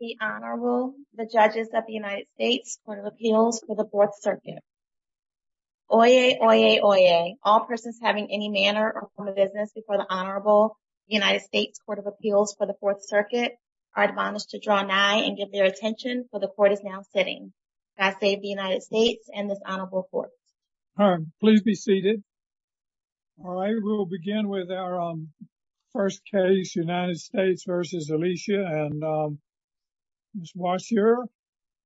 The Honorable, the Judges of the United States Court of Appeals for the Fourth Circuit. Oyez, oyez, oyez. All persons having any manner or form of business before the Honorable United States Court of Appeals for the Fourth Circuit are admonished to draw nigh and give their attention, for the Court is now sitting. God save the United States and this Honorable Court. All right, please be seated. All right, we'll begin with our first case, United States v. Alicia. And Ms. Washier,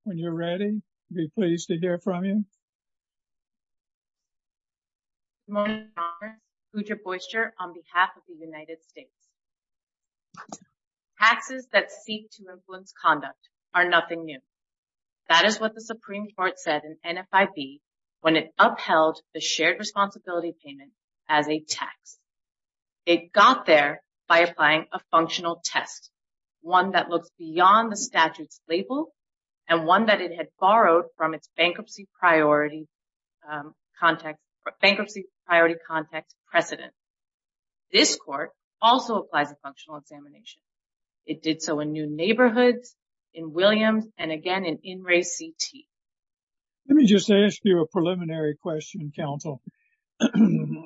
when you're ready, we'd be pleased to hear from you. Good morning, Your Honor. Uja Boister on behalf of the United States. Taxes that seek to influence conduct are nothing new. That is what the Supreme Court said in NFIB when it upheld the shared responsibility payment as a tax. It got there by applying a functional test, one that looks beyond the statute's label, and one that it had borrowed from its bankruptcy priority context precedent. This court also applies a functional examination. It did so in New Neighborhoods, in Williams, and again in NRAY-CT. Let me just ask you a preliminary question, counsel.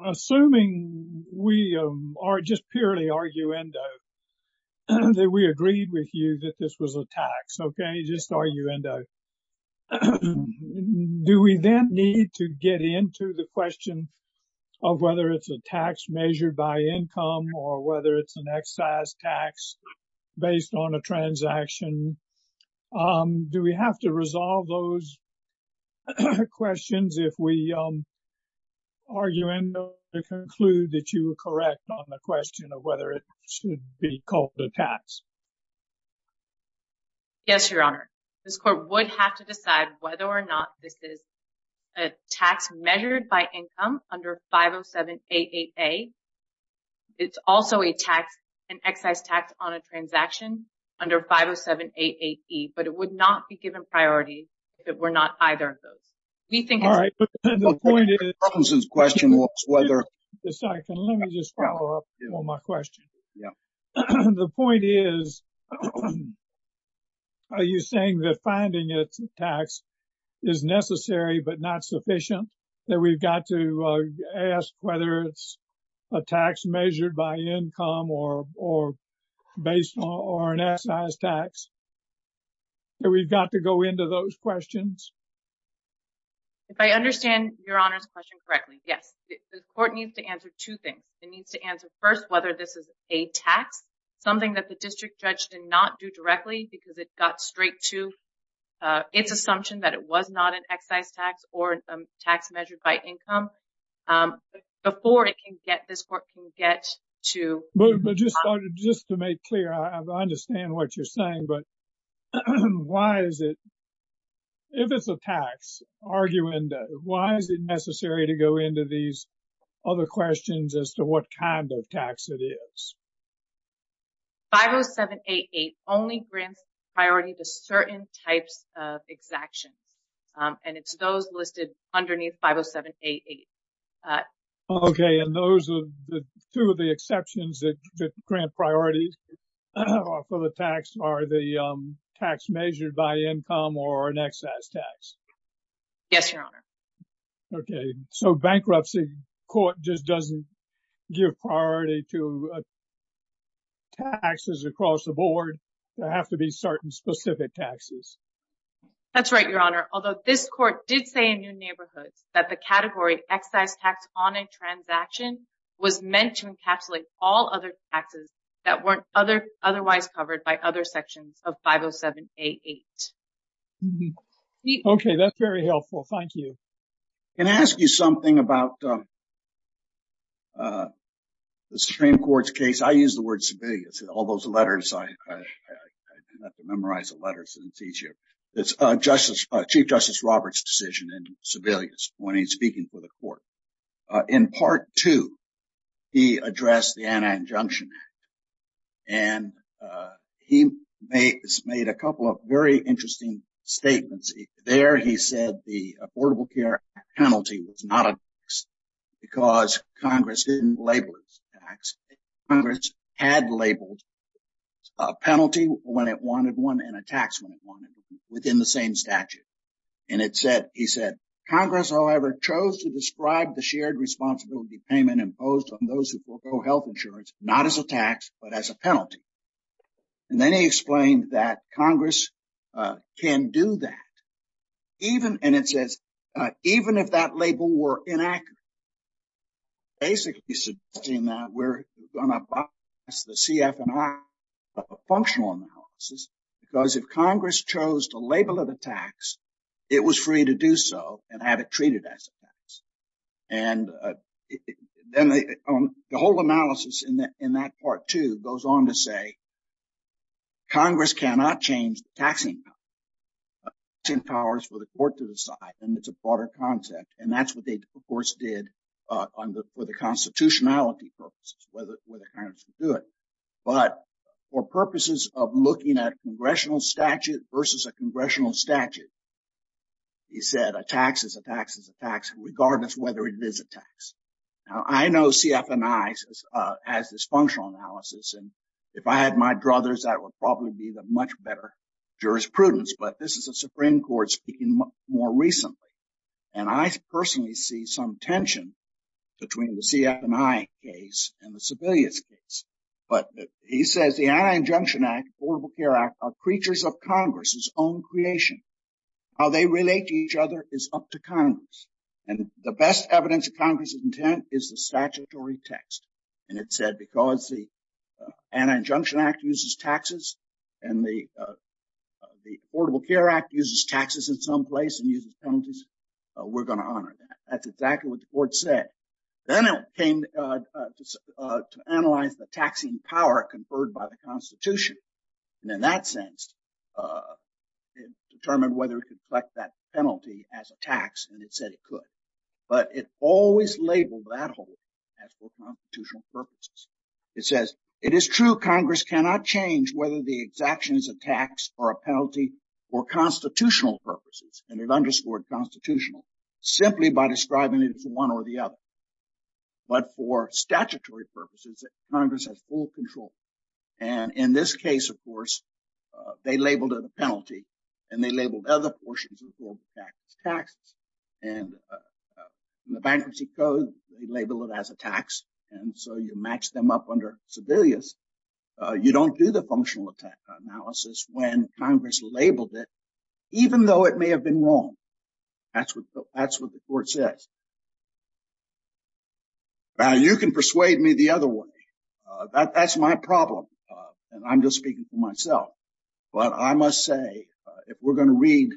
Assuming we are just purely arguendo, that we agreed with you that this was a tax. OK, just arguendo. Do we then need to get into the question of whether it's a tax measured by income or whether it's an excise tax based on a transaction? Do we have to resolve those questions if we arguendo to conclude that you were correct on the question of whether it should be called a tax? Yes, Your Honor. This court would have to decide whether or not this is a tax measured by income under 507-88A. It's also an excise tax on a transaction under 507-88E, but it would not be given priority if it were not either of those. All right, but the point is... Just a second. Let me just follow up on my question. The point is, are you saying that finding it's a tax is necessary but not sufficient? That we've got to ask whether it's a tax measured by income or based on an excise tax? That we've got to go into those questions? If I understand Your Honor's question correctly, yes. The court needs to answer two things. It needs to answer first whether this is a tax, something that the district judge did not do directly because it got straight to its assumption that it was not an excise tax or a tax measured by income, before this court can get to... But just to make clear, I understand what you're saying, but why is it... If it's a tax, why is it necessary to go into these other questions as to what kind of tax it is? 507-88 only grants priority to certain types of exactions, and it's those listed underneath 507-88. Okay, and those are two of the exceptions that grant priority for the tax, are the tax measured by income or an excise tax? Yes, Your Honor. Okay, so bankruptcy court just doesn't give priority to taxes across the board? There have to be certain specific taxes? That's right, Your Honor. Although this court did say in New Neighborhoods that the category excise tax on a transaction was meant to encapsulate all other taxes that weren't otherwise covered by other sections of 507-88. Okay, that's very helpful. Thank you. Can I ask you something about the Supreme Court's case? I use the word Sebelius. All those letters, I have to memorize the letters. It's easier. It's Chief Justice Roberts' decision in Sebelius when he's speaking for the court. In Part 2, he addressed the Anti-Injunction Act, and he made a couple of very interesting statements. There, he said the Affordable Care Act penalty was not a tax because Congress didn't label it as a tax. Congress had labeled a penalty when it wanted one and a tax when it wanted one within the same statute. And he said, Congress, however, chose to describe the shared responsibility payment imposed on those who forego health insurance not as a tax but as a penalty. And then he explained that Congress can do that even, and it says, even if that label were inaccurate, basically suggesting that we're going to bypass the CF and I functional analysis because if Congress chose to label it a tax, it was free to do so and have it treated as a tax. And then the whole analysis in that Part 2 goes on to say Congress cannot change the taxing powers for the court to decide, and it's a broader concept. And that's what they, of course, did for the constitutionality purposes, whether Congress would do it. But for purposes of looking at congressional statute versus a congressional statute, he said a tax is a tax is a tax, regardless whether it is a tax. Now, I know CF and I has this functional analysis, and if I had my druthers, that would probably be the much better jurisprudence. But this is a Supreme Court speaking more recently, and I personally see some tension between the CF and I case and the Sebelius case. But he says the Anti-Injunction Act, Affordable Care Act are creatures of Congress's own creation. How they relate to each other is up to Congress, and the best evidence of Congress's intent is the statutory text. And it said because the Anti-Injunction Act uses taxes and the Affordable Care Act uses taxes in some place and uses penalties, we're going to honor that. That's exactly what the court said. Then it came to analyze the taxing power conferred by the Constitution. And in that sense, it determined whether it could collect that penalty as a tax, and it said it could. But it always labeled that whole thing as for constitutional purposes. It says, it is true Congress cannot change whether the exaction is a tax or a penalty for constitutional purposes. And it underscored constitutional simply by describing it as one or the other. But for statutory purposes, Congress has full control. And in this case, of course, they labeled it a penalty and they labeled other portions of the tax as taxes. And the bankruptcy code labeled it as a tax. And so you match them up under Sebelius. You don't do the functional attack analysis when Congress labeled it, even though it may have been wrong. That's what that's what the court says. Now, you can persuade me the other way. That's my problem. And I'm just speaking for myself. But I must say, if we're going to read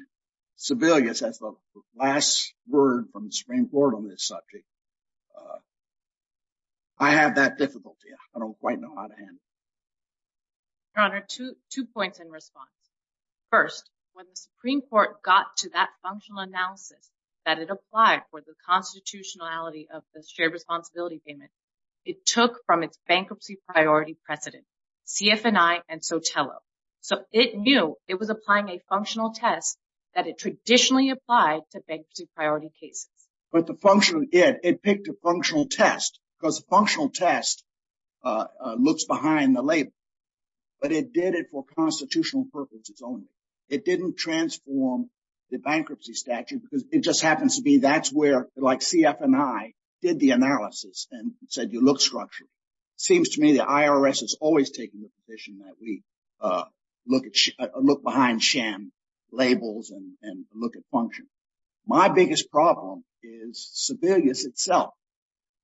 Sebelius as the last word from the Supreme Court on this subject, I have that difficulty. I don't quite know how to handle it. Your Honor, two points in response. First, when the Supreme Court got to that functional analysis that it applied for the constitutionality of the shared responsibility payment, it took from its bankruptcy priority precedent, CFNI and Sotelo. So it knew it was applying a functional test that it traditionally applied to bankruptcy priority cases. But the function of it, it picked a functional test because a functional test looks behind the label. But it did it for constitutional purposes only. It didn't transform the bankruptcy statute because it just happens to be that's where CFNI did the analysis and said you look structure. Seems to me the IRS is always taking the position that we look behind sham labels and look at function. My biggest problem is Sebelius itself.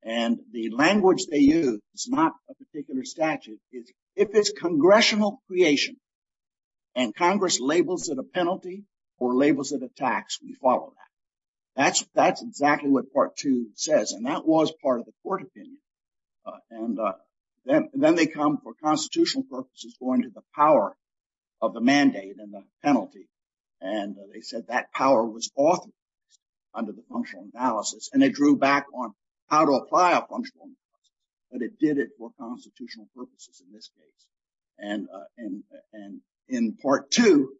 And the language they use is not a particular statute. If it's congressional creation and Congress labels it a penalty or labels it a tax, we follow that. That's exactly what part two says. And that was part of the court opinion. And then they come for constitutional purposes going to the power of the mandate and the penalty. And they said that power was authorized under the functional analysis. And they drew back on how to apply a functional analysis. But it did it for constitutional purposes in this case. And in part two,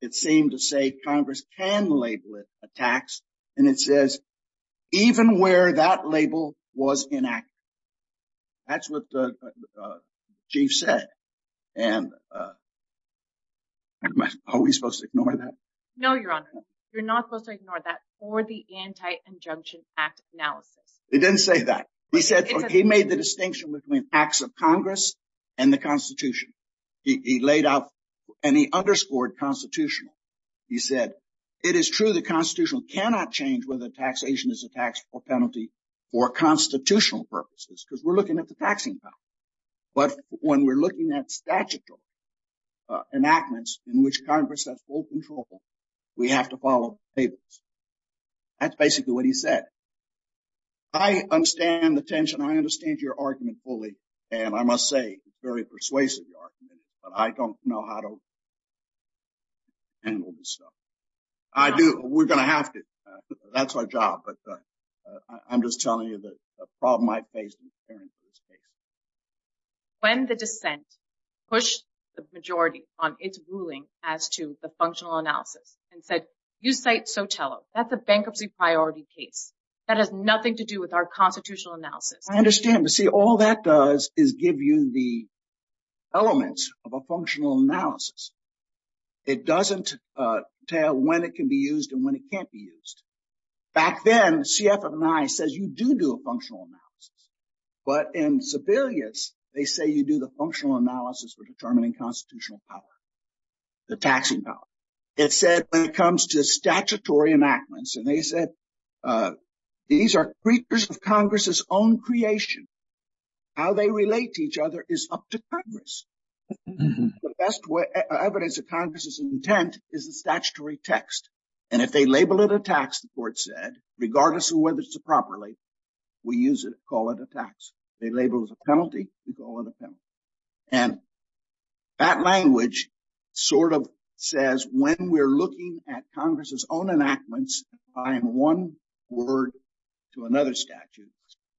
it seemed to say Congress can label it a tax. And it says even where that label was inaccurate. That's what the chief said. And are we supposed to ignore that? No, Your Honor. You're not supposed to ignore that for the Anti-Injunction Act analysis. It didn't say that. He said he made the distinction between acts of Congress and the Constitution. He laid out and he underscored constitutional. He said it is true the Constitution cannot change whether taxation is a tax or penalty for constitutional purposes. Because we're looking at the taxing power. But when we're looking at statutory enactments in which Congress has full control, we have to follow the labels. That's basically what he said. I understand the tension. I understand your argument fully. And I must say it's a very persuasive argument. But I don't know how to handle this stuff. I do. We're going to have to. That's our job. I'm just telling you the problem I face. When the dissent pushed the majority on its ruling as to the functional analysis and said you cite Sotelo, that's a bankruptcy priority case. That has nothing to do with our constitutional analysis. I understand. But see, all that does is give you the elements of a functional analysis. It doesn't tell when it can be used and when it can't be used. Back then, CFNI says you do do a functional analysis. But in Sebelius, they say you do the functional analysis for determining constitutional power, the taxing power. It said when it comes to statutory enactments, and they said these are creatures of Congress's own creation. How they relate to each other is up to Congress. The best evidence of Congress's intent is the statutory text. And if they label it a tax, the court said, regardless of whether it's a properly, we use it, call it a tax. They label it a penalty, we call it a penalty. And that language sort of says when we're looking at Congress's own enactments, applying one word to another statute,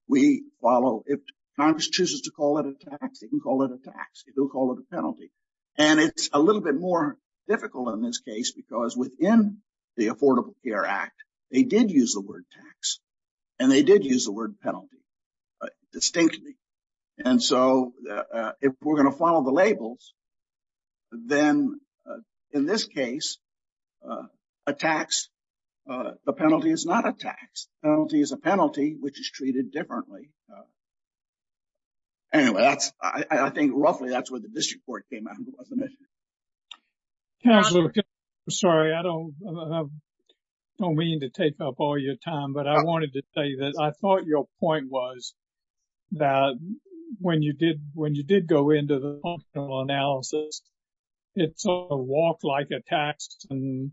we follow. If Congress chooses to call it a tax, they can call it a tax. They'll call it a penalty. And it's a little bit more difficult in this case because within the Affordable Care Act, they did use the word tax and they did use the word penalty distinctly. And so if we're going to follow the labels, then in this case, a tax, a penalty is not a tax. Penalty is a penalty which is treated differently. Anyway, that's, I think roughly that's what the district court came out with. Sorry, I don't mean to take up all your time, but I wanted to say that I thought your point was that when you did go into the analysis, it's a walk like a tax and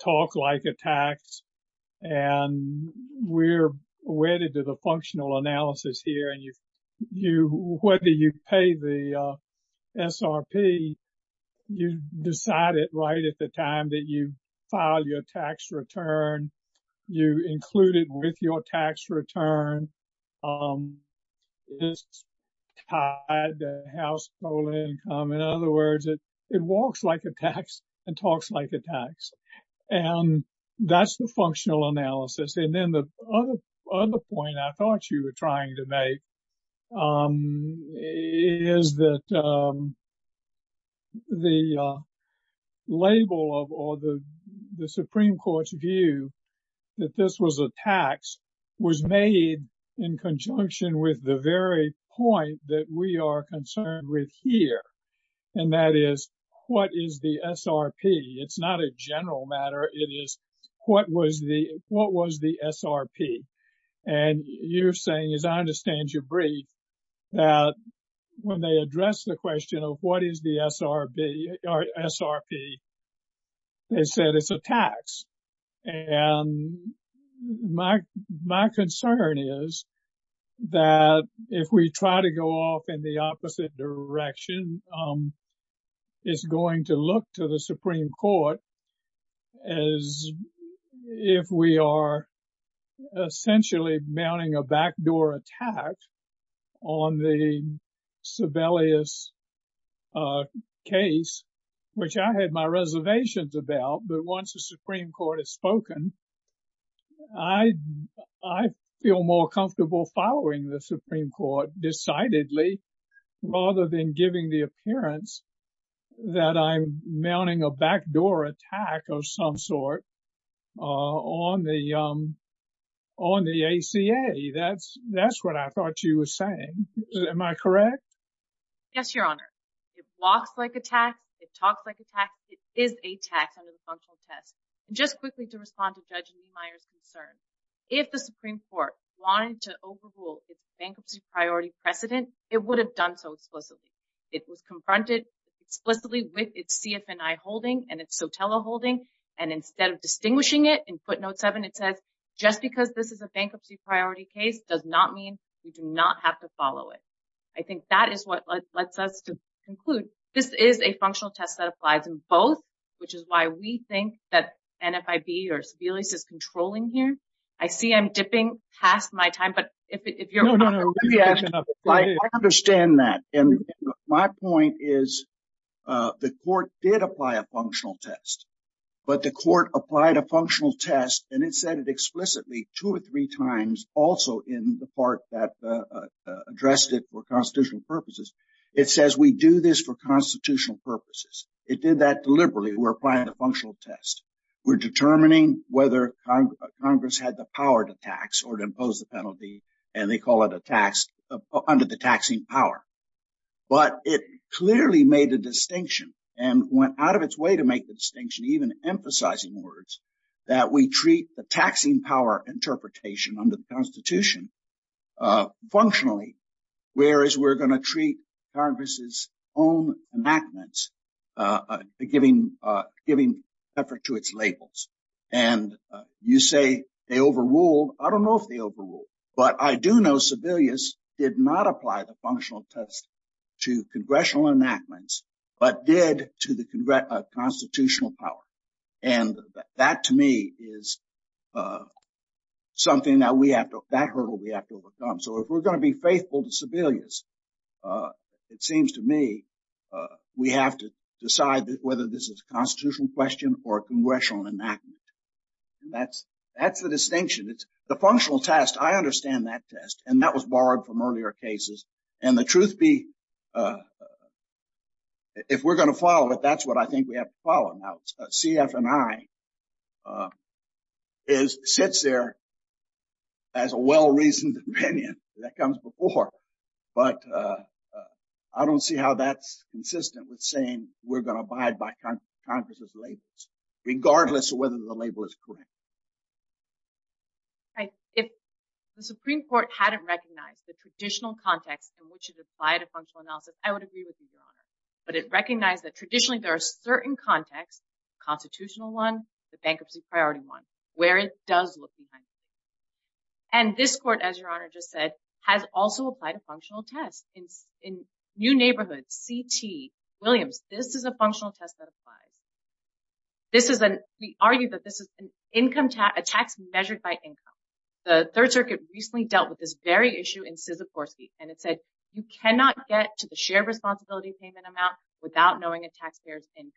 talk like a tax. And we're wedded to the functional analysis here. And you, whether you pay the SRP, you decide it right at the time that you file your tax return. You include it with your tax return. It's tied to household income. In other words, it walks like a tax and talks like a tax. And that's the functional analysis. And then the other point I thought you were trying to make is that the label of the Supreme Court's view that this was a tax was made in conjunction with the very point that we are concerned with here. And that is what is the SRP? It's not a general matter. It is what was the SRP? And you're saying, as I understand your brief, that when they address the question of what is the SRP, they said it's a tax. And my concern is that if we try to go off in the opposite direction, it's going to look to the Supreme Court as if we are essentially mounting a backdoor attack on the Sebelius case, which I had my reservations about. But once the Supreme Court has spoken, I feel more comfortable following the Supreme Court decidedly rather than giving the appearance that I'm mounting a backdoor attack of some sort on the ACA. That's what I thought you were saying. Am I correct? Yes, Your Honor. It walks like a tax. It talks like a tax. It is a tax under the functional test. Just quickly to respond to Judge Niemeyer's concern, if the Supreme Court wanted to overrule its bankruptcy priority precedent, it would have done so explicitly. It was confronted explicitly with its CFNI holding and its SOTELA holding. And instead of distinguishing it, in footnote 7, it says, just because this is a bankruptcy priority case does not mean we do not have to follow it. I think that is what lets us to conclude. This is a functional test that applies in both, which is why we think that NFIB or Sebelius is controlling here. I see I'm dipping past my time, but if you're... No, no, no. I understand that. And my point is the court did apply a functional test, but the court applied a functional test and it said it explicitly two or three times also in the part that addressed it for constitutional purposes. It says we do this for constitutional purposes. It did that deliberately. We're applying the functional test. We're determining whether Congress had the power to tax or to impose the penalty, and they call it a tax under the taxing power. But it clearly made a distinction and went out of its way to make the distinction, even emphasizing words, that we treat the taxing power interpretation under the Constitution functionally, whereas we're going to treat Congress's own enactments giving effort to its labels. And you say they overruled. I don't know if they overruled, but I do know Sebelius did not apply the functional test to congressional enactments, but did to the constitutional power. And that, to me, is something that we have to... That hurdle we have to overcome. So if we're going to be faithful to Sebelius, it seems to me we have to decide whether this is a constitutional question or a congressional enactment. That's the distinction. The functional test, I understand that test, and that was borrowed from earlier cases. And the truth be, if we're going to follow it, that's what I think we have to follow. Now, CF and I sits there as a well-reasoned opinion that comes before, but I don't see how that's consistent with saying we're going to abide by Congress's labels, regardless of whether the label is correct. If the Supreme Court hadn't recognized the traditional context in which it applied a functional analysis, I would agree with you, Your Honor. But it recognized that traditionally there are certain contexts, the constitutional one, the bankruptcy priority one, where it does look behind it. And this Court, as Your Honor just said, has also applied a functional test. In New Neighborhood, CT, Williams, this is a functional test that applies. We argue that this is a tax measured by income. The Third Circuit recently dealt with this very issue in Sysakorsky, and it said you cannot get to the shared responsibility payment amount without knowing a taxpayer's income.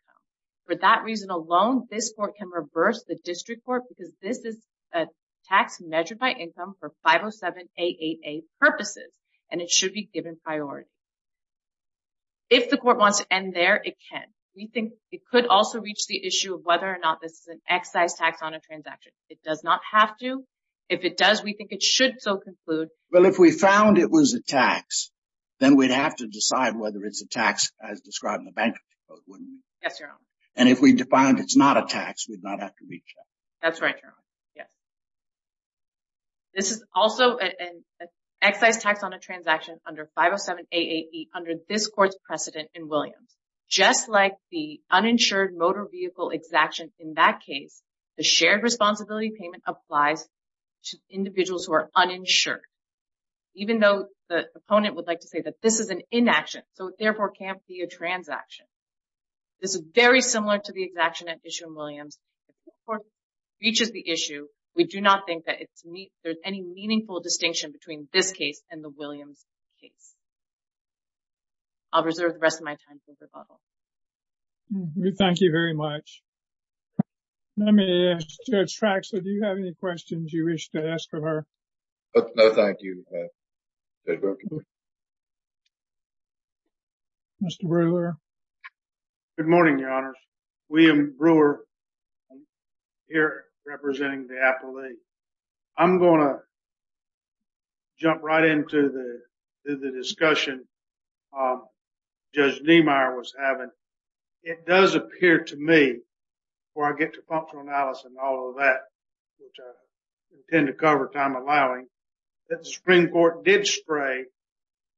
For that reason alone, this Court can reverse the District Court because this is a tax measured by income for 507-888 purposes, and it should be given priority. If the Court wants to end there, it can. We think it could also reach the issue of whether or not this is an excise tax on a transaction. It does not have to. If it does, we think it should so conclude. Well, if we found it was a tax, then we'd have to decide whether it's a tax as described in the bankruptcy code, wouldn't we? Yes, Your Honor. And if we find it's not a tax, we'd not have to reach that. That's right, Your Honor. Yes. This is also an excise tax on a transaction under 507-888 under this Court's precedent in Williams. Just like the uninsured motor vehicle exaction in that case, the shared responsibility payment applies to individuals who are uninsured. Even though the opponent would like to say that this is an inaction, so it therefore can't be a transaction. This is very similar to the exaction at issue in Williams. If the Court reaches the issue, we do not think that there's any meaningful distinction between this case and the Williams case. I'll reserve the rest of my time for rebuttal. Thank you very much. Let me ask Judge Traxler, do you have any questions you wish to ask of her? No, thank you. Mr. Brewer. Good morning, Your Honor. William Brewer here representing the appellee. I'm going to jump right into the discussion Judge Niemeyer was having. It does appear to me, before I get to functional analysis and all of that, which I intend to cover time allowing, that the Supreme Court did stray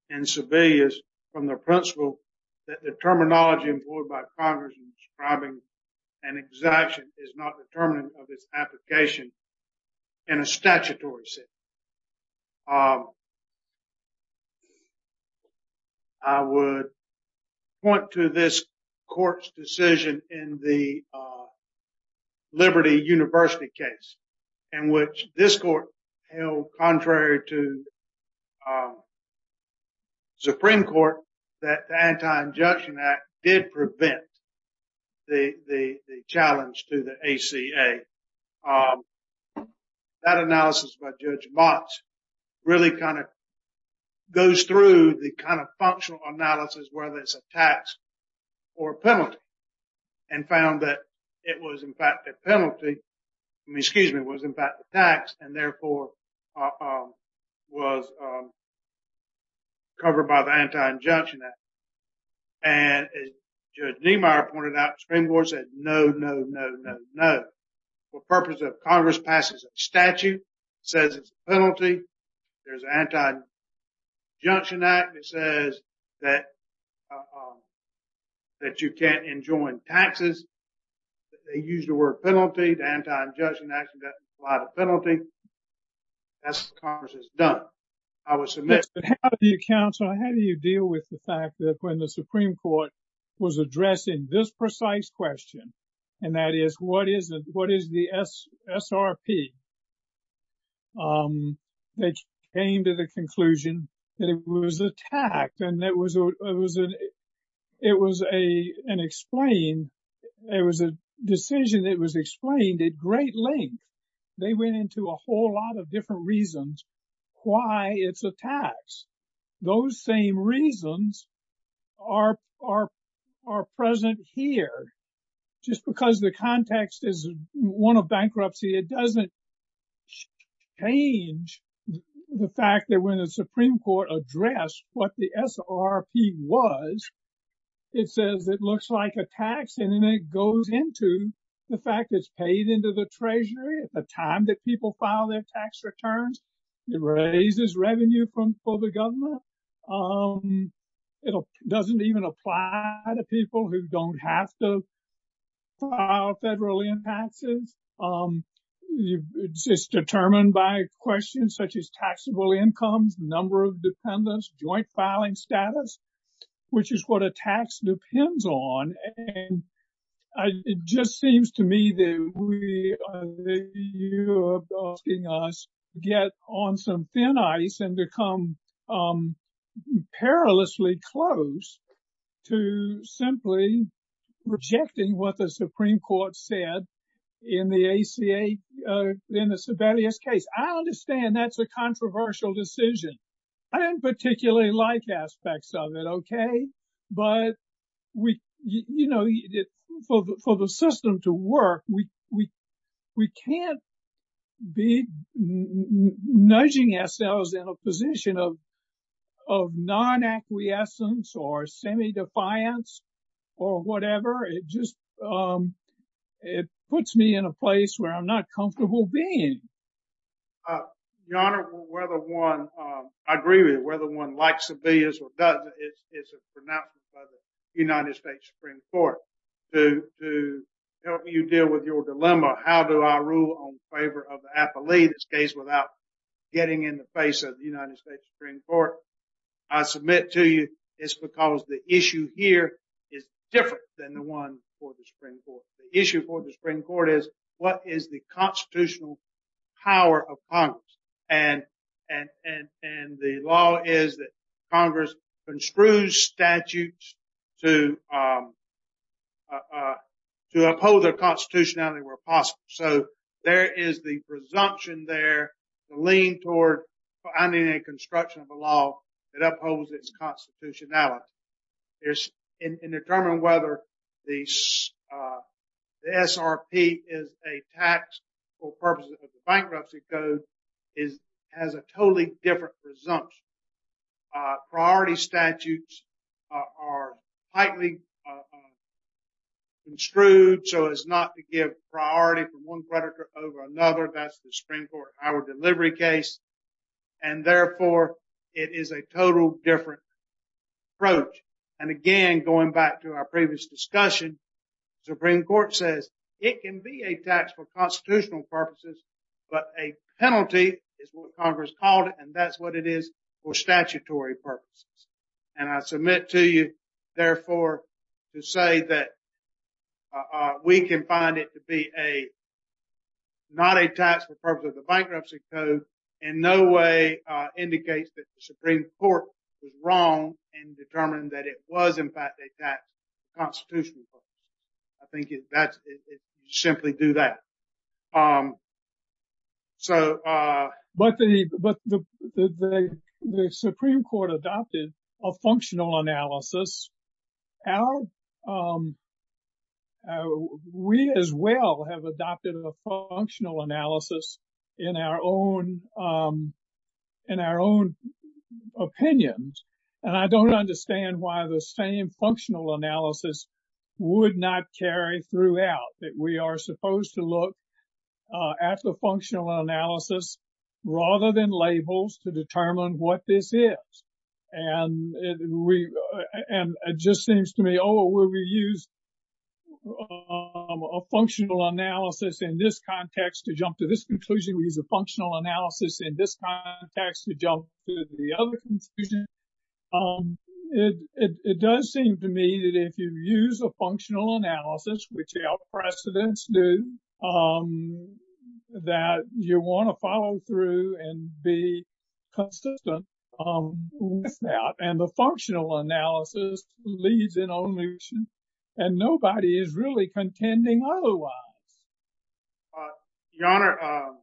in Sebelius from the principle that the terminology employed by Congress in describing an exaction is not determinant of its application in a statutory sense. I would point to this court's decision in the Liberty University case, in which this court held, contrary to Supreme Court, that the Anti-Injection Act did prevent the challenge to the ACA. That analysis by Judge Motz really kind of goes through the kind of functional analysis, whether it's a tax or a penalty, and found that it was in fact a penalty, excuse me, it was in fact a tax, and therefore was covered by the Anti-Injection Act. And as Judge Niemeyer pointed out, the Supreme Court said no, no, no, no, no. For purposes of Congress passes a statute, says it's a penalty, there's an Anti-Injection Act that says that you can't enjoin taxes. They use the word penalty, the Anti-Injection Act doesn't apply the penalty. That's what Congress has done. But how do you counsel, how do you deal with the fact that when the Supreme Court was addressing this precise question, and that is, what is the SRP that came to the conclusion that it was attacked? And it was an explained, it was a decision that was explained at great length. They went into a whole lot of different reasons why it's a tax. Those same reasons are present here. Just because the context is one of bankruptcy, it doesn't change the fact that when the Supreme Court addressed what the SRP was, it says it looks like a tax and then it goes into the fact it's paid into the Treasury at the time that people file their tax returns. It raises revenue for the government. It doesn't even apply to people who don't have to file federal impasses. It's determined by questions such as taxable incomes, number of dependents, joint filing status, which is what a tax depends on. It just seems to me that you are asking us to get on some thin ice and become perilously close to simply rejecting what the Supreme Court said in the Sibelius case. I understand that's a controversial decision. I don't particularly like aspects of it, okay? But for the system to work, we can't be nudging ourselves in a position of non-acquiescence or semi-defiance or whatever. It just puts me in a place where I'm not comfortable being. Your Honor, I agree with you. Whether one likes Sibelius or doesn't is a pronouncement by the United States Supreme Court. To help you deal with your dilemma, how do I rule in favor of the affilee in this case without getting in the face of the United States Supreme Court, I submit to you it's because the issue here is different than the one for the Supreme Court. The issue for the Supreme Court is what is the constitutional power of Congress? And the law is that Congress construes statutes to uphold their constitutionality where possible. So there is the presumption there, the lean toward finding a construction of a law that upholds its constitutionality. In determining whether the SRP is a tax for purposes of the bankruptcy code has a totally different presumption. Priority statutes are tightly construed so as not to give priority from one predicate over another. That's the Supreme Court in our delivery case. And therefore, it is a totally different approach. And again, going back to our previous discussion, Supreme Court says it can be a tax for constitutional purposes, but a penalty is what Congress called it and that's what it is for statutory purposes. And I submit to you, therefore, to say that we can find it to be not a tax for purposes of the bankruptcy code in no way indicates that the Supreme Court was wrong in determining that it was in fact a tax for constitutional purposes. I think you simply do that. But the Supreme Court adopted a functional analysis. We as well have adopted a functional analysis in our own opinions. And I don't understand why the same functional analysis would not carry throughout that we are supposed to look at the functional analysis rather than labels to determine what this is. And it just seems to me, oh, we use a functional analysis in this context to jump to this conclusion. We use a functional analysis in this context to jump to the other conclusion. It does seem to me that if you use a functional analysis, which our precedents do, that you want to follow through and be consistent with that. And the functional analysis leads in only and nobody is really contending otherwise. Your Honor,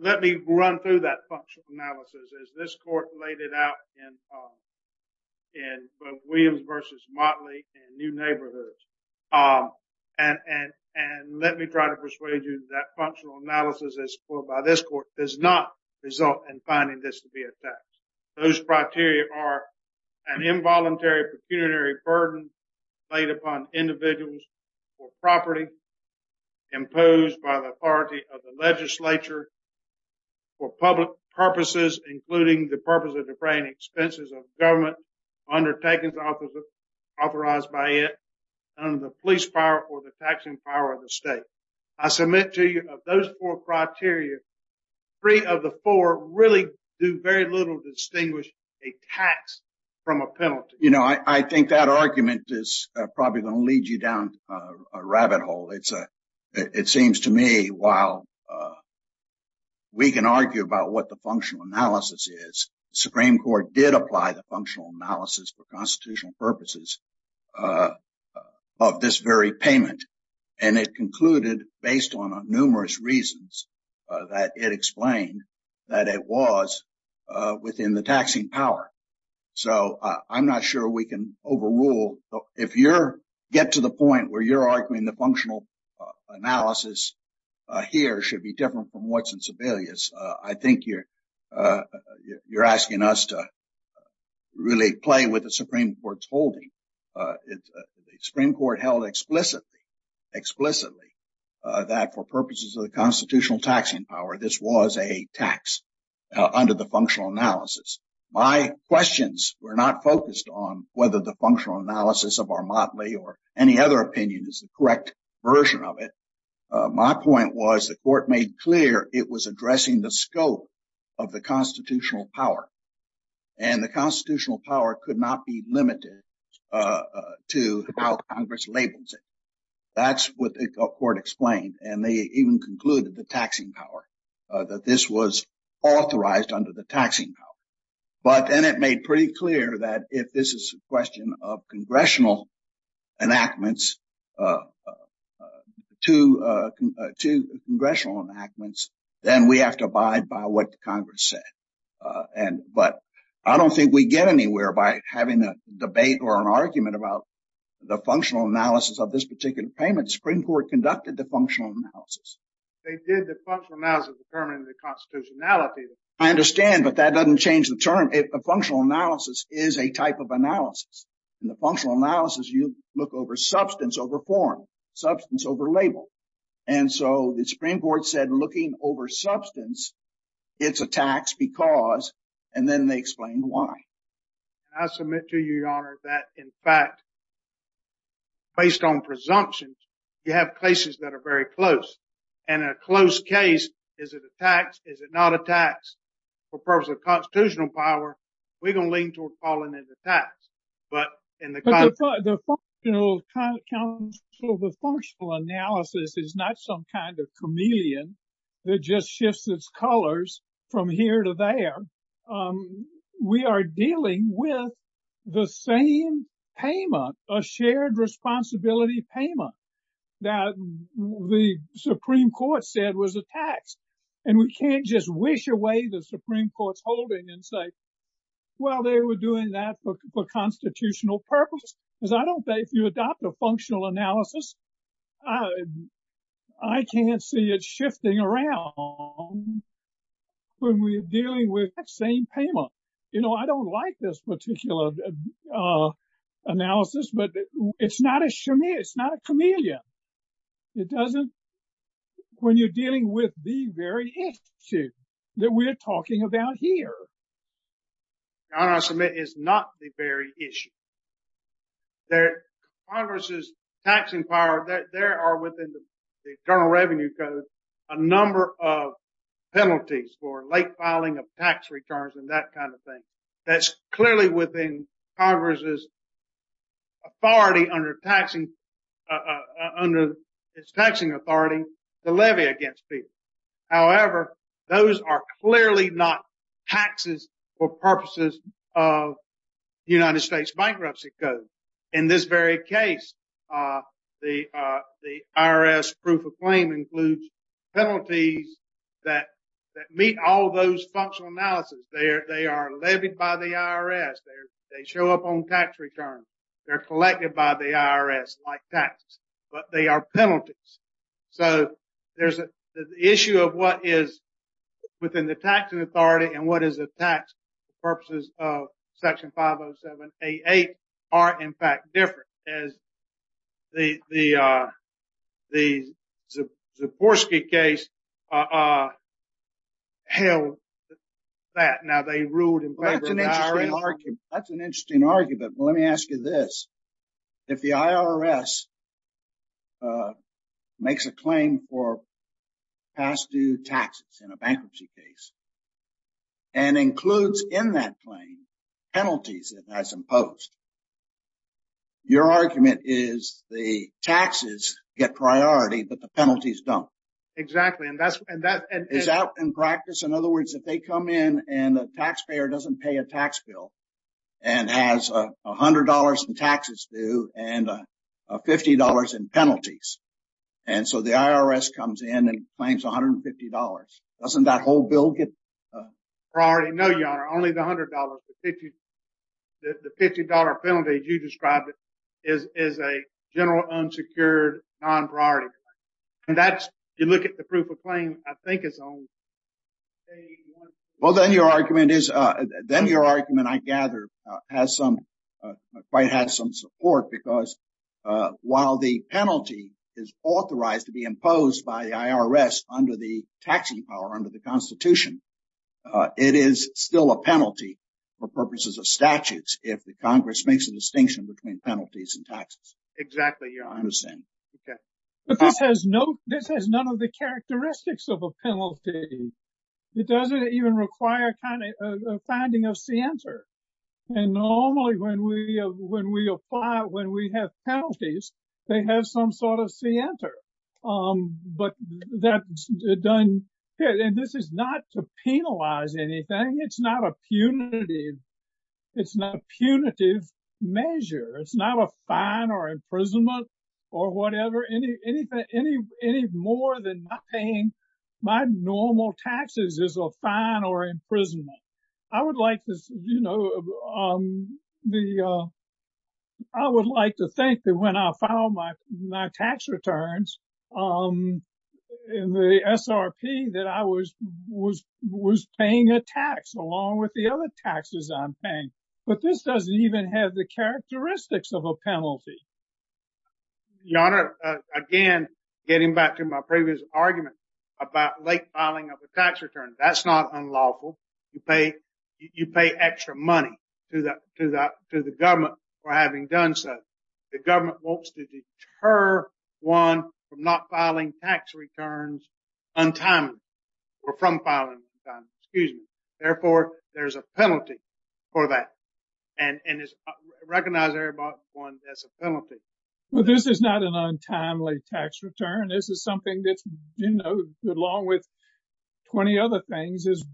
let me run through that functional analysis as this court laid it out in Williams v. Motley in New Neighborhoods. And let me try to persuade you that functional analysis as scored by this court does not result in finding this to be a tax. Those criteria are an involuntary pecuniary burden laid upon individuals for property imposed by the authority of the legislature for public purposes, including the purpose of defraying expenses of government undertakings authorized by it under the police power or the taxing power of the state. I submit to you of those four criteria, three of the four really do very little to distinguish a tax from a penalty. You know, I think that argument is probably going to lead you down a rabbit hole. It's a it seems to me while we can argue about what the functional analysis is, the Supreme Court did apply the functional analysis for constitutional purposes of this very payment. And it concluded based on numerous reasons that it explained that it was within the taxing power. So I'm not sure we can overrule if you're get to the point where you're arguing the functional analysis here should be different from what's in Sebelius. I think you're you're asking us to really play with the Supreme Court's holding. The Supreme Court held explicitly explicitly that for purposes of the constitutional taxing power, this was a tax under the functional analysis. My questions were not focused on whether the functional analysis of our motley or any other opinion is the correct version of it. My point was the court made clear it was addressing the scope of the constitutional power and the constitutional power could not be limited to how Congress labels it. That's what the court explained. And they even concluded the taxing power that this was authorized under the taxing. But then it made pretty clear that if this is a question of congressional enactments to to congressional enactments, then we have to abide by what Congress said. And but I don't think we get anywhere by having a debate or an argument about the functional analysis of this particular payment. Supreme Court conducted the functional analysis. They did the functional analysis determining the constitutionality. I understand, but that doesn't change the term. A functional analysis is a type of analysis. In the functional analysis, you look over substance, over form, substance, over label. And so the Supreme Court said looking over substance, it's a tax because. And then they explained why. I submit to you, Your Honor, that in fact. Based on presumptions, you have cases that are very close and a close case. Is it a tax? Is it not a tax? For purpose of constitutional power, we don't lean toward calling it a tax. The functional analysis is not some kind of chameleon that just shifts its colors from here to there. We are dealing with the same payment, a shared responsibility payment that the Supreme Court said was a tax. And we can't just wish away the Supreme Court's holding and say, well, they were doing that for constitutional purpose. Because I don't think if you adopt a functional analysis, I can't see it shifting around when we're dealing with that same payment. You know, I don't like this particular analysis, but it's not a chameleon. It doesn't, when you're dealing with the very issue that we're talking about here. Your Honor, I submit it's not the very issue. There, Congress's taxing power, there are within the General Revenue Code, a number of penalties for late filing of tax returns and that kind of thing. That's clearly within Congress's authority under its taxing authority to levy against people. However, those are clearly not taxes for purposes of the United States Bankruptcy Code. In this very case, the IRS proof of claim includes penalties that meet all those functional analysis. They are levied by the IRS. They show up on tax returns. They're collected by the IRS like taxes, but they are penalties. So, there's the issue of what is within the taxing authority and what is a tax for purposes of Section 507A8 are in fact different as the Zaborski case held that. Now they ruled in favor of the IRS. That's an interesting argument. Let me ask you this. If the IRS makes a claim for past due taxes in a bankruptcy case and includes in that claim penalties it has imposed, your argument is the taxes get priority, but the penalties don't. Exactly. Is that in practice? In other words, if they come in and the taxpayer doesn't pay a tax bill and has $100 in taxes due and $50 in penalties, and so the IRS comes in and claims $150, doesn't that whole bill get priority? No, Your Honor. Only the $100. The $50 penalty you described is a general unsecured non-priority claim. And that's, you look at the proof of claim, I think it's only... Well, then your argument is, then your argument I gather has some, quite has some support because while the penalty is authorized to be imposed by the IRS under the taxing power, under the Constitution, it is still a penalty for purposes of statutes if the Congress makes a distinction between penalties and taxes. Exactly, Your Honor. I understand. But this has none of the characteristics of a penalty. It doesn't even require a finding of scienter. And normally when we apply, when we have penalties, they have some sort of scienter. But that's done... And this is not to penalize anything. It's not a punitive measure. It's not a fine or imprisonment or whatever. Any more than not paying my normal taxes is a fine or imprisonment. I would like to think that when I file my tax returns in the SRP that I was paying a tax along with the other taxes I'm paying. But this doesn't even have the characteristics of a penalty. Your Honor, again, getting back to my previous argument about late filing of a tax return, that's not unlawful. You pay extra money to the government for having done so. The government wants to deter one from not filing tax returns on time or from filing on time. Therefore, there's a penalty for that. And it's recognized there about one as a penalty. Well, this is not an untimely tax return. This is something that's, you know, along with 20 other things is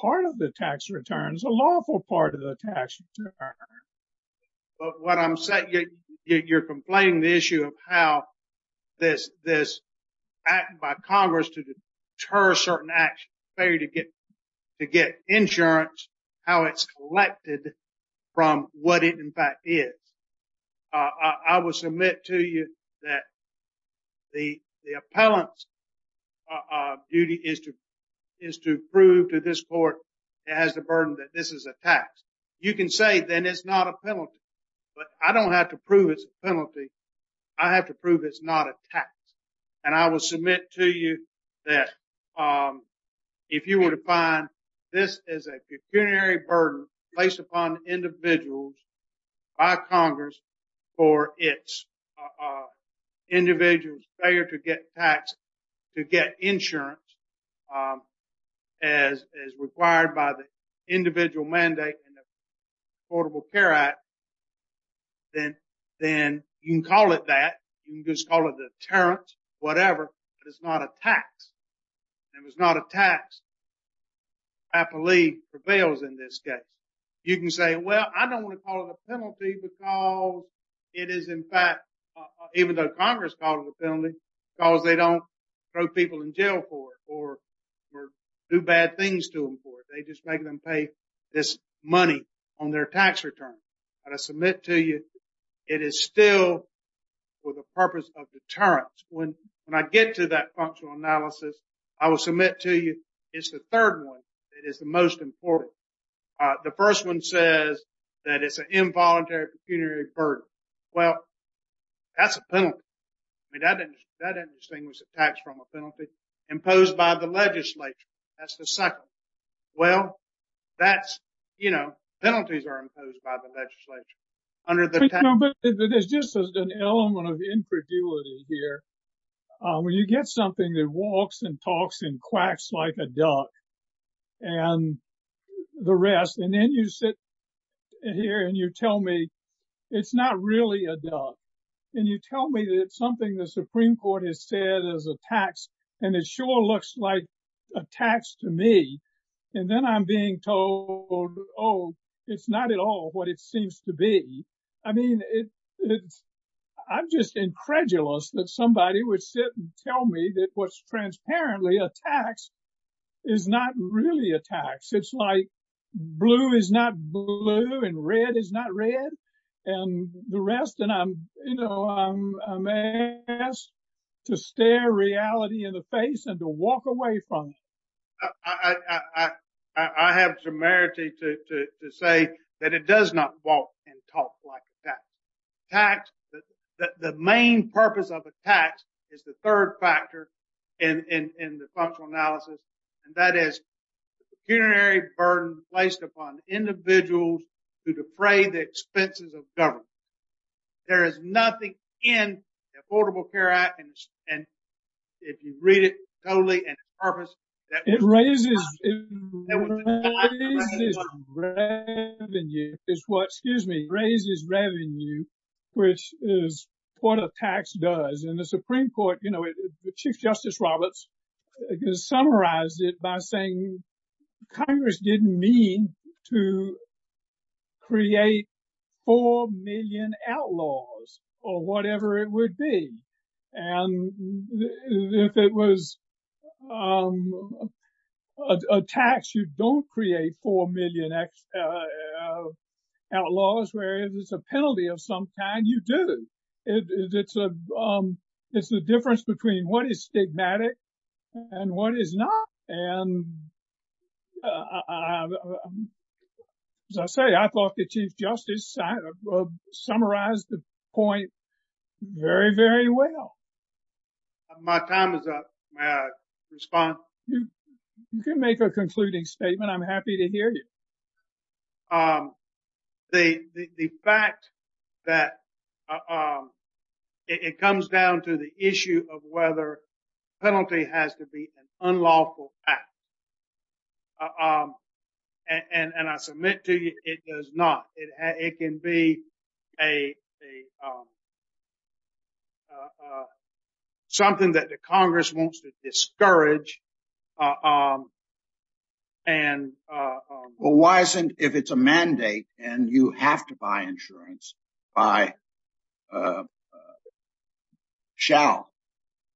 part of the tax returns, a lawful part of the tax return. But what I'm saying, you're complaining the issue of how this act by Congress to deter certain actions, failure to get insurance, how it's collected from what it in fact is. I will submit to you that the appellant's duty is to prove to this court it has the burden that this is a tax. You can say then it's not a penalty, but I don't have to prove it's a penalty. I have to prove it's not a tax. And I will submit to you that if you were to find this is a pecuniary burden placed upon individuals by Congress for its individual failure to get tax, to get insurance as required by the individual mandate in the Affordable Care Act, then you can call it that. You can just call it a deterrent, whatever, but it's not a tax. It was not a tax. Appellee prevails in this case. You can say, well, I don't want to call it a penalty because it is in fact, even though Congress called it a penalty, because they don't throw people in jail for it or do bad things to them for it. They just make them pay this money on their tax return. But I submit to you it is still for the purpose of deterrence. When I get to that functional analysis, I will submit to you it's the third one that is the most important. The first one says that it's an involuntary pecuniary burden. Well, that's a penalty. I mean, that doesn't distinguish a tax from a penalty imposed by the legislature. That's the second. Well, that's, you know, penalties are imposed by the legislature. But there's just an element of infriduity here. When you get something that walks and talks and quacks like a duck and the rest, and then you sit here and you tell me it's not really a duck. And you tell me that something the Supreme Court has said is a tax. And it sure looks like a tax to me. And then I'm being told, oh, it's not at all what it seems to be. I mean, I'm just incredulous that somebody would sit and tell me that what's transparently a tax is not really a tax. It's like blue is not blue and red is not red. And the rest and I'm, you know, I'm asked to stare reality in the face and to walk away from it. I have some merit to say that it does not walk and talk like that tax. The main purpose of a tax is the third factor in the functional analysis. And that is the pecuniary burden placed upon individuals to defray the expenses of government. There is nothing in the Affordable Care Act. And if you read it totally and purpose, it raises revenue. It's what, excuse me, raises revenue, which is what a tax does. And the Supreme Court, you know, Chief Justice Roberts summarized it by saying Congress didn't mean to create four million outlaws or whatever it would be. And if it was a tax, you don't create four million outlaws, whereas if it's a penalty of some kind, you do. It's the difference between what is stigmatic and what is not. And as I say, I thought the Chief Justice summarized the point very, very well. My time is up. May I respond? You can make a concluding statement. I'm happy to hear you. The fact that it comes down to the issue of whether penalty has to be an unlawful act. And I submit to you, it does not. It can be a something that the Congress wants to discourage. Well, why isn't if it's a mandate and you have to buy insurance, buy, shall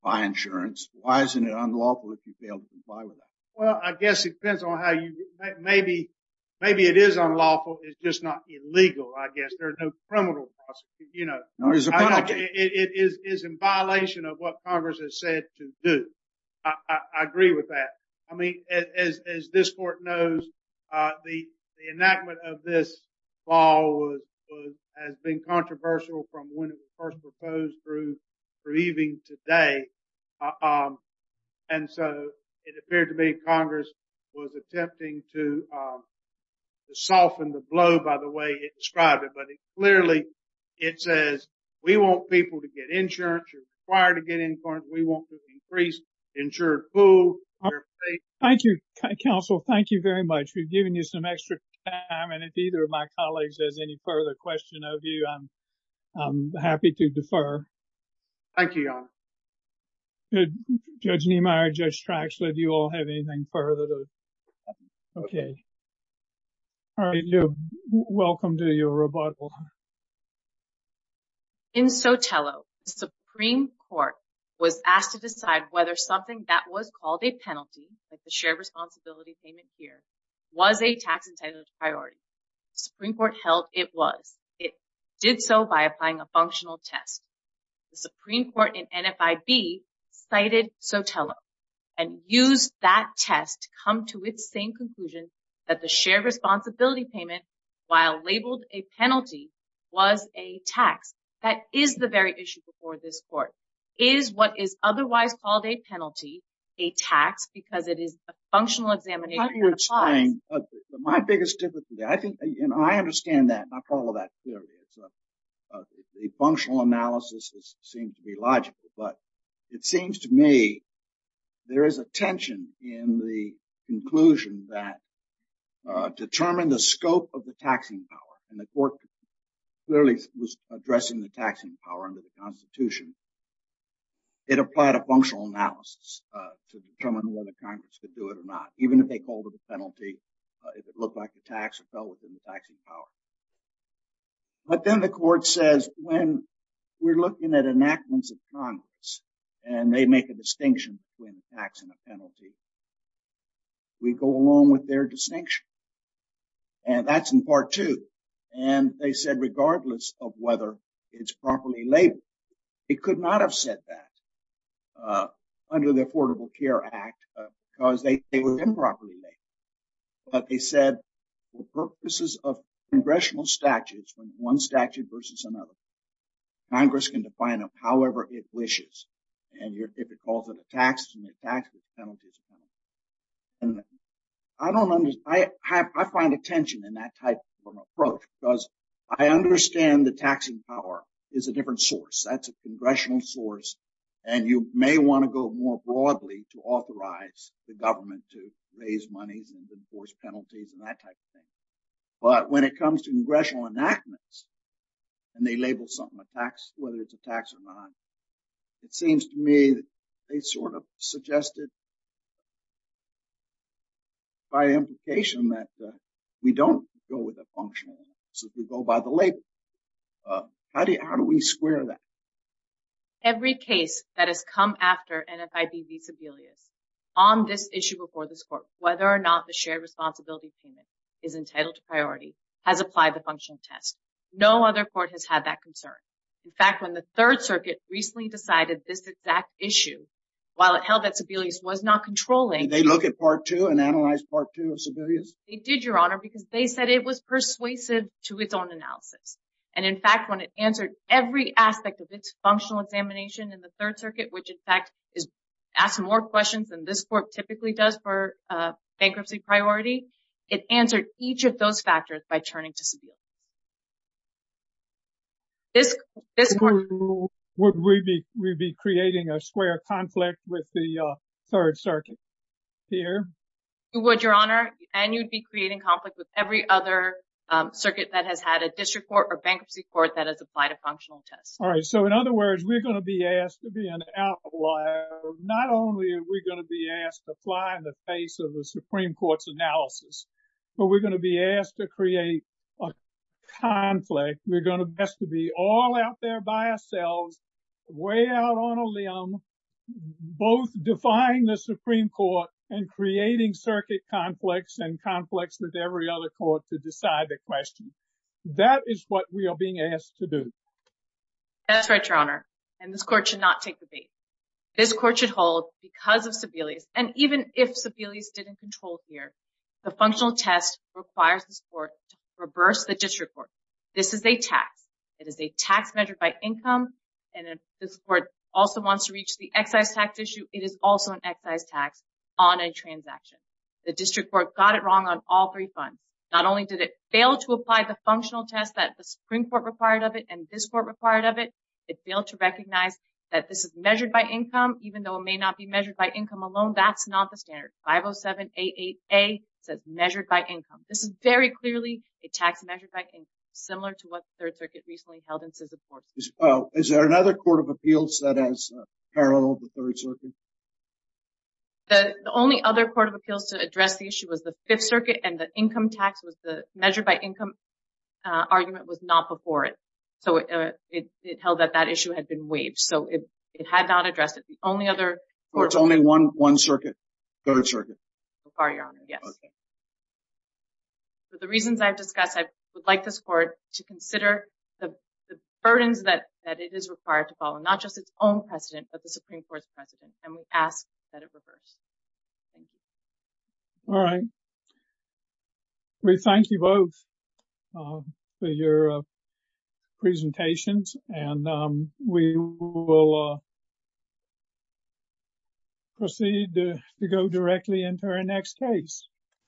buy insurance? Why isn't it unlawful if you fail to comply with that? Well, I guess it depends on how you maybe maybe it is unlawful. It's just not illegal. I guess there's no criminal. You know, it is in violation of what Congress has said to do. I agree with that. I mean, as this court knows, the enactment of this law has been controversial from when it was first proposed through reading today. And so it appeared to me Congress was attempting to soften the blow by the way it described it. Clearly, it says we want people to get insurance required to get in. We want to increase insured food. Thank you, counsel. Thank you very much. We've given you some extra time. And if either of my colleagues has any further question of you, I'm happy to defer. Thank you, Your Honor. Judge Niemeyer, Judge Straxley, do you all have anything further? OK. Welcome to your rebuttal. In Sotelo, the Supreme Court was asked to decide whether something that was called a penalty, like the shared responsibility payment here, was a tax entitled priority. Supreme Court held it was. It did so by applying a functional test. The Supreme Court in NFIB cited Sotelo and used that test to come to its same conclusion that the shared responsibility payment, while labeled a penalty, was a tax. That is the very issue before this court is what is otherwise called a penalty, a tax, because it is a functional examination. My biggest difficulty, I think I understand that. I follow that clearly. The functional analysis seems to be logical, but it seems to me there is a tension in the conclusion that determine the scope of the taxing power. And the court clearly was addressing the taxing power under the Constitution. It applied a functional analysis to determine whether Congress could do it or not, even if they called it a penalty, if it looked like a tax or fell within the taxing power. But then the court says, when we're looking at enactments of Congress and they make a distinction between a tax and a penalty, we go along with their distinction. And that's in part two. And they said, regardless of whether it's properly labeled, it could not have said that under the Affordable Care Act because they were improperly labeled. But they said, for purposes of congressional statutes, when one statute versus another, Congress can define them however it wishes. And if it calls it a tax, it's a penalty. I find a tension in that type of approach because I understand the taxing power is a different source. That's a congressional source. And you may want to go more broadly to authorize the government to raise monies and enforce penalties and that type of thing. But when it comes to congressional enactments and they label something a tax, whether it's a tax or not, it seems to me they sort of suggested by implication that we don't go with a functional analysis, we go by the label. How do we square that? Every case that has come after NFIB v. Sebelius on this issue before this court, whether or not the shared responsibility payment is entitled to priority, has applied the functional test. No other court has had that concern. In fact, when the Third Circuit recently decided this exact issue, while it held that Sebelius was not controlling. Did they look at part two and analyze part two of Sebelius? They did, Your Honor, because they said it was persuasive to its own analysis. And in fact, when it answered every aspect of its functional examination in the Third Circuit, which in fact is asked more questions than this court typically does for bankruptcy priority, it answered each of those factors by turning to Sebelius. Would we be creating a square conflict with the Third Circuit here? You would, Your Honor, and you'd be creating conflict with every other circuit that has had a district court or bankruptcy court that has applied a functional test. All right. So in other words, we're going to be asked to be an outlier. That is what we are being asked to do. That's right, Your Honor. And this court should not take the bait. This court should hold because of Sebelius. And even if Sebelius didn't control here, the functional test requires this court to reverse the district court. This is a tax. It is a tax measured by income. And this court also wants to reach the excise tax issue. It is also an excise tax on a transaction. The district court got it wrong on all three funds. Not only did it fail to apply the functional test that the Supreme Court required of it and this court required of it, it failed to recognize that this is measured by income, even though it may not be measured by income alone. That's not the standard. 507-88A says measured by income. This is very clearly a tax measured by income, similar to what the Third Circuit recently held in Siza Court. Is there another court of appeals that has a parallel with the Third Circuit? The only other court of appeals to address the issue was the Fifth Circuit. And the income tax was the measured by income argument was not before it. So it held that that issue had been waived. So it had not addressed it. So it's only one circuit, Third Circuit? So far, Your Honor, yes. For the reasons I've discussed, I would like this court to consider the burdens that it is required to follow, not just its own precedent, but the Supreme Court's precedent. And we ask that it reverse. All right. We thank you both for your presentations. And we will proceed to go directly into our next case.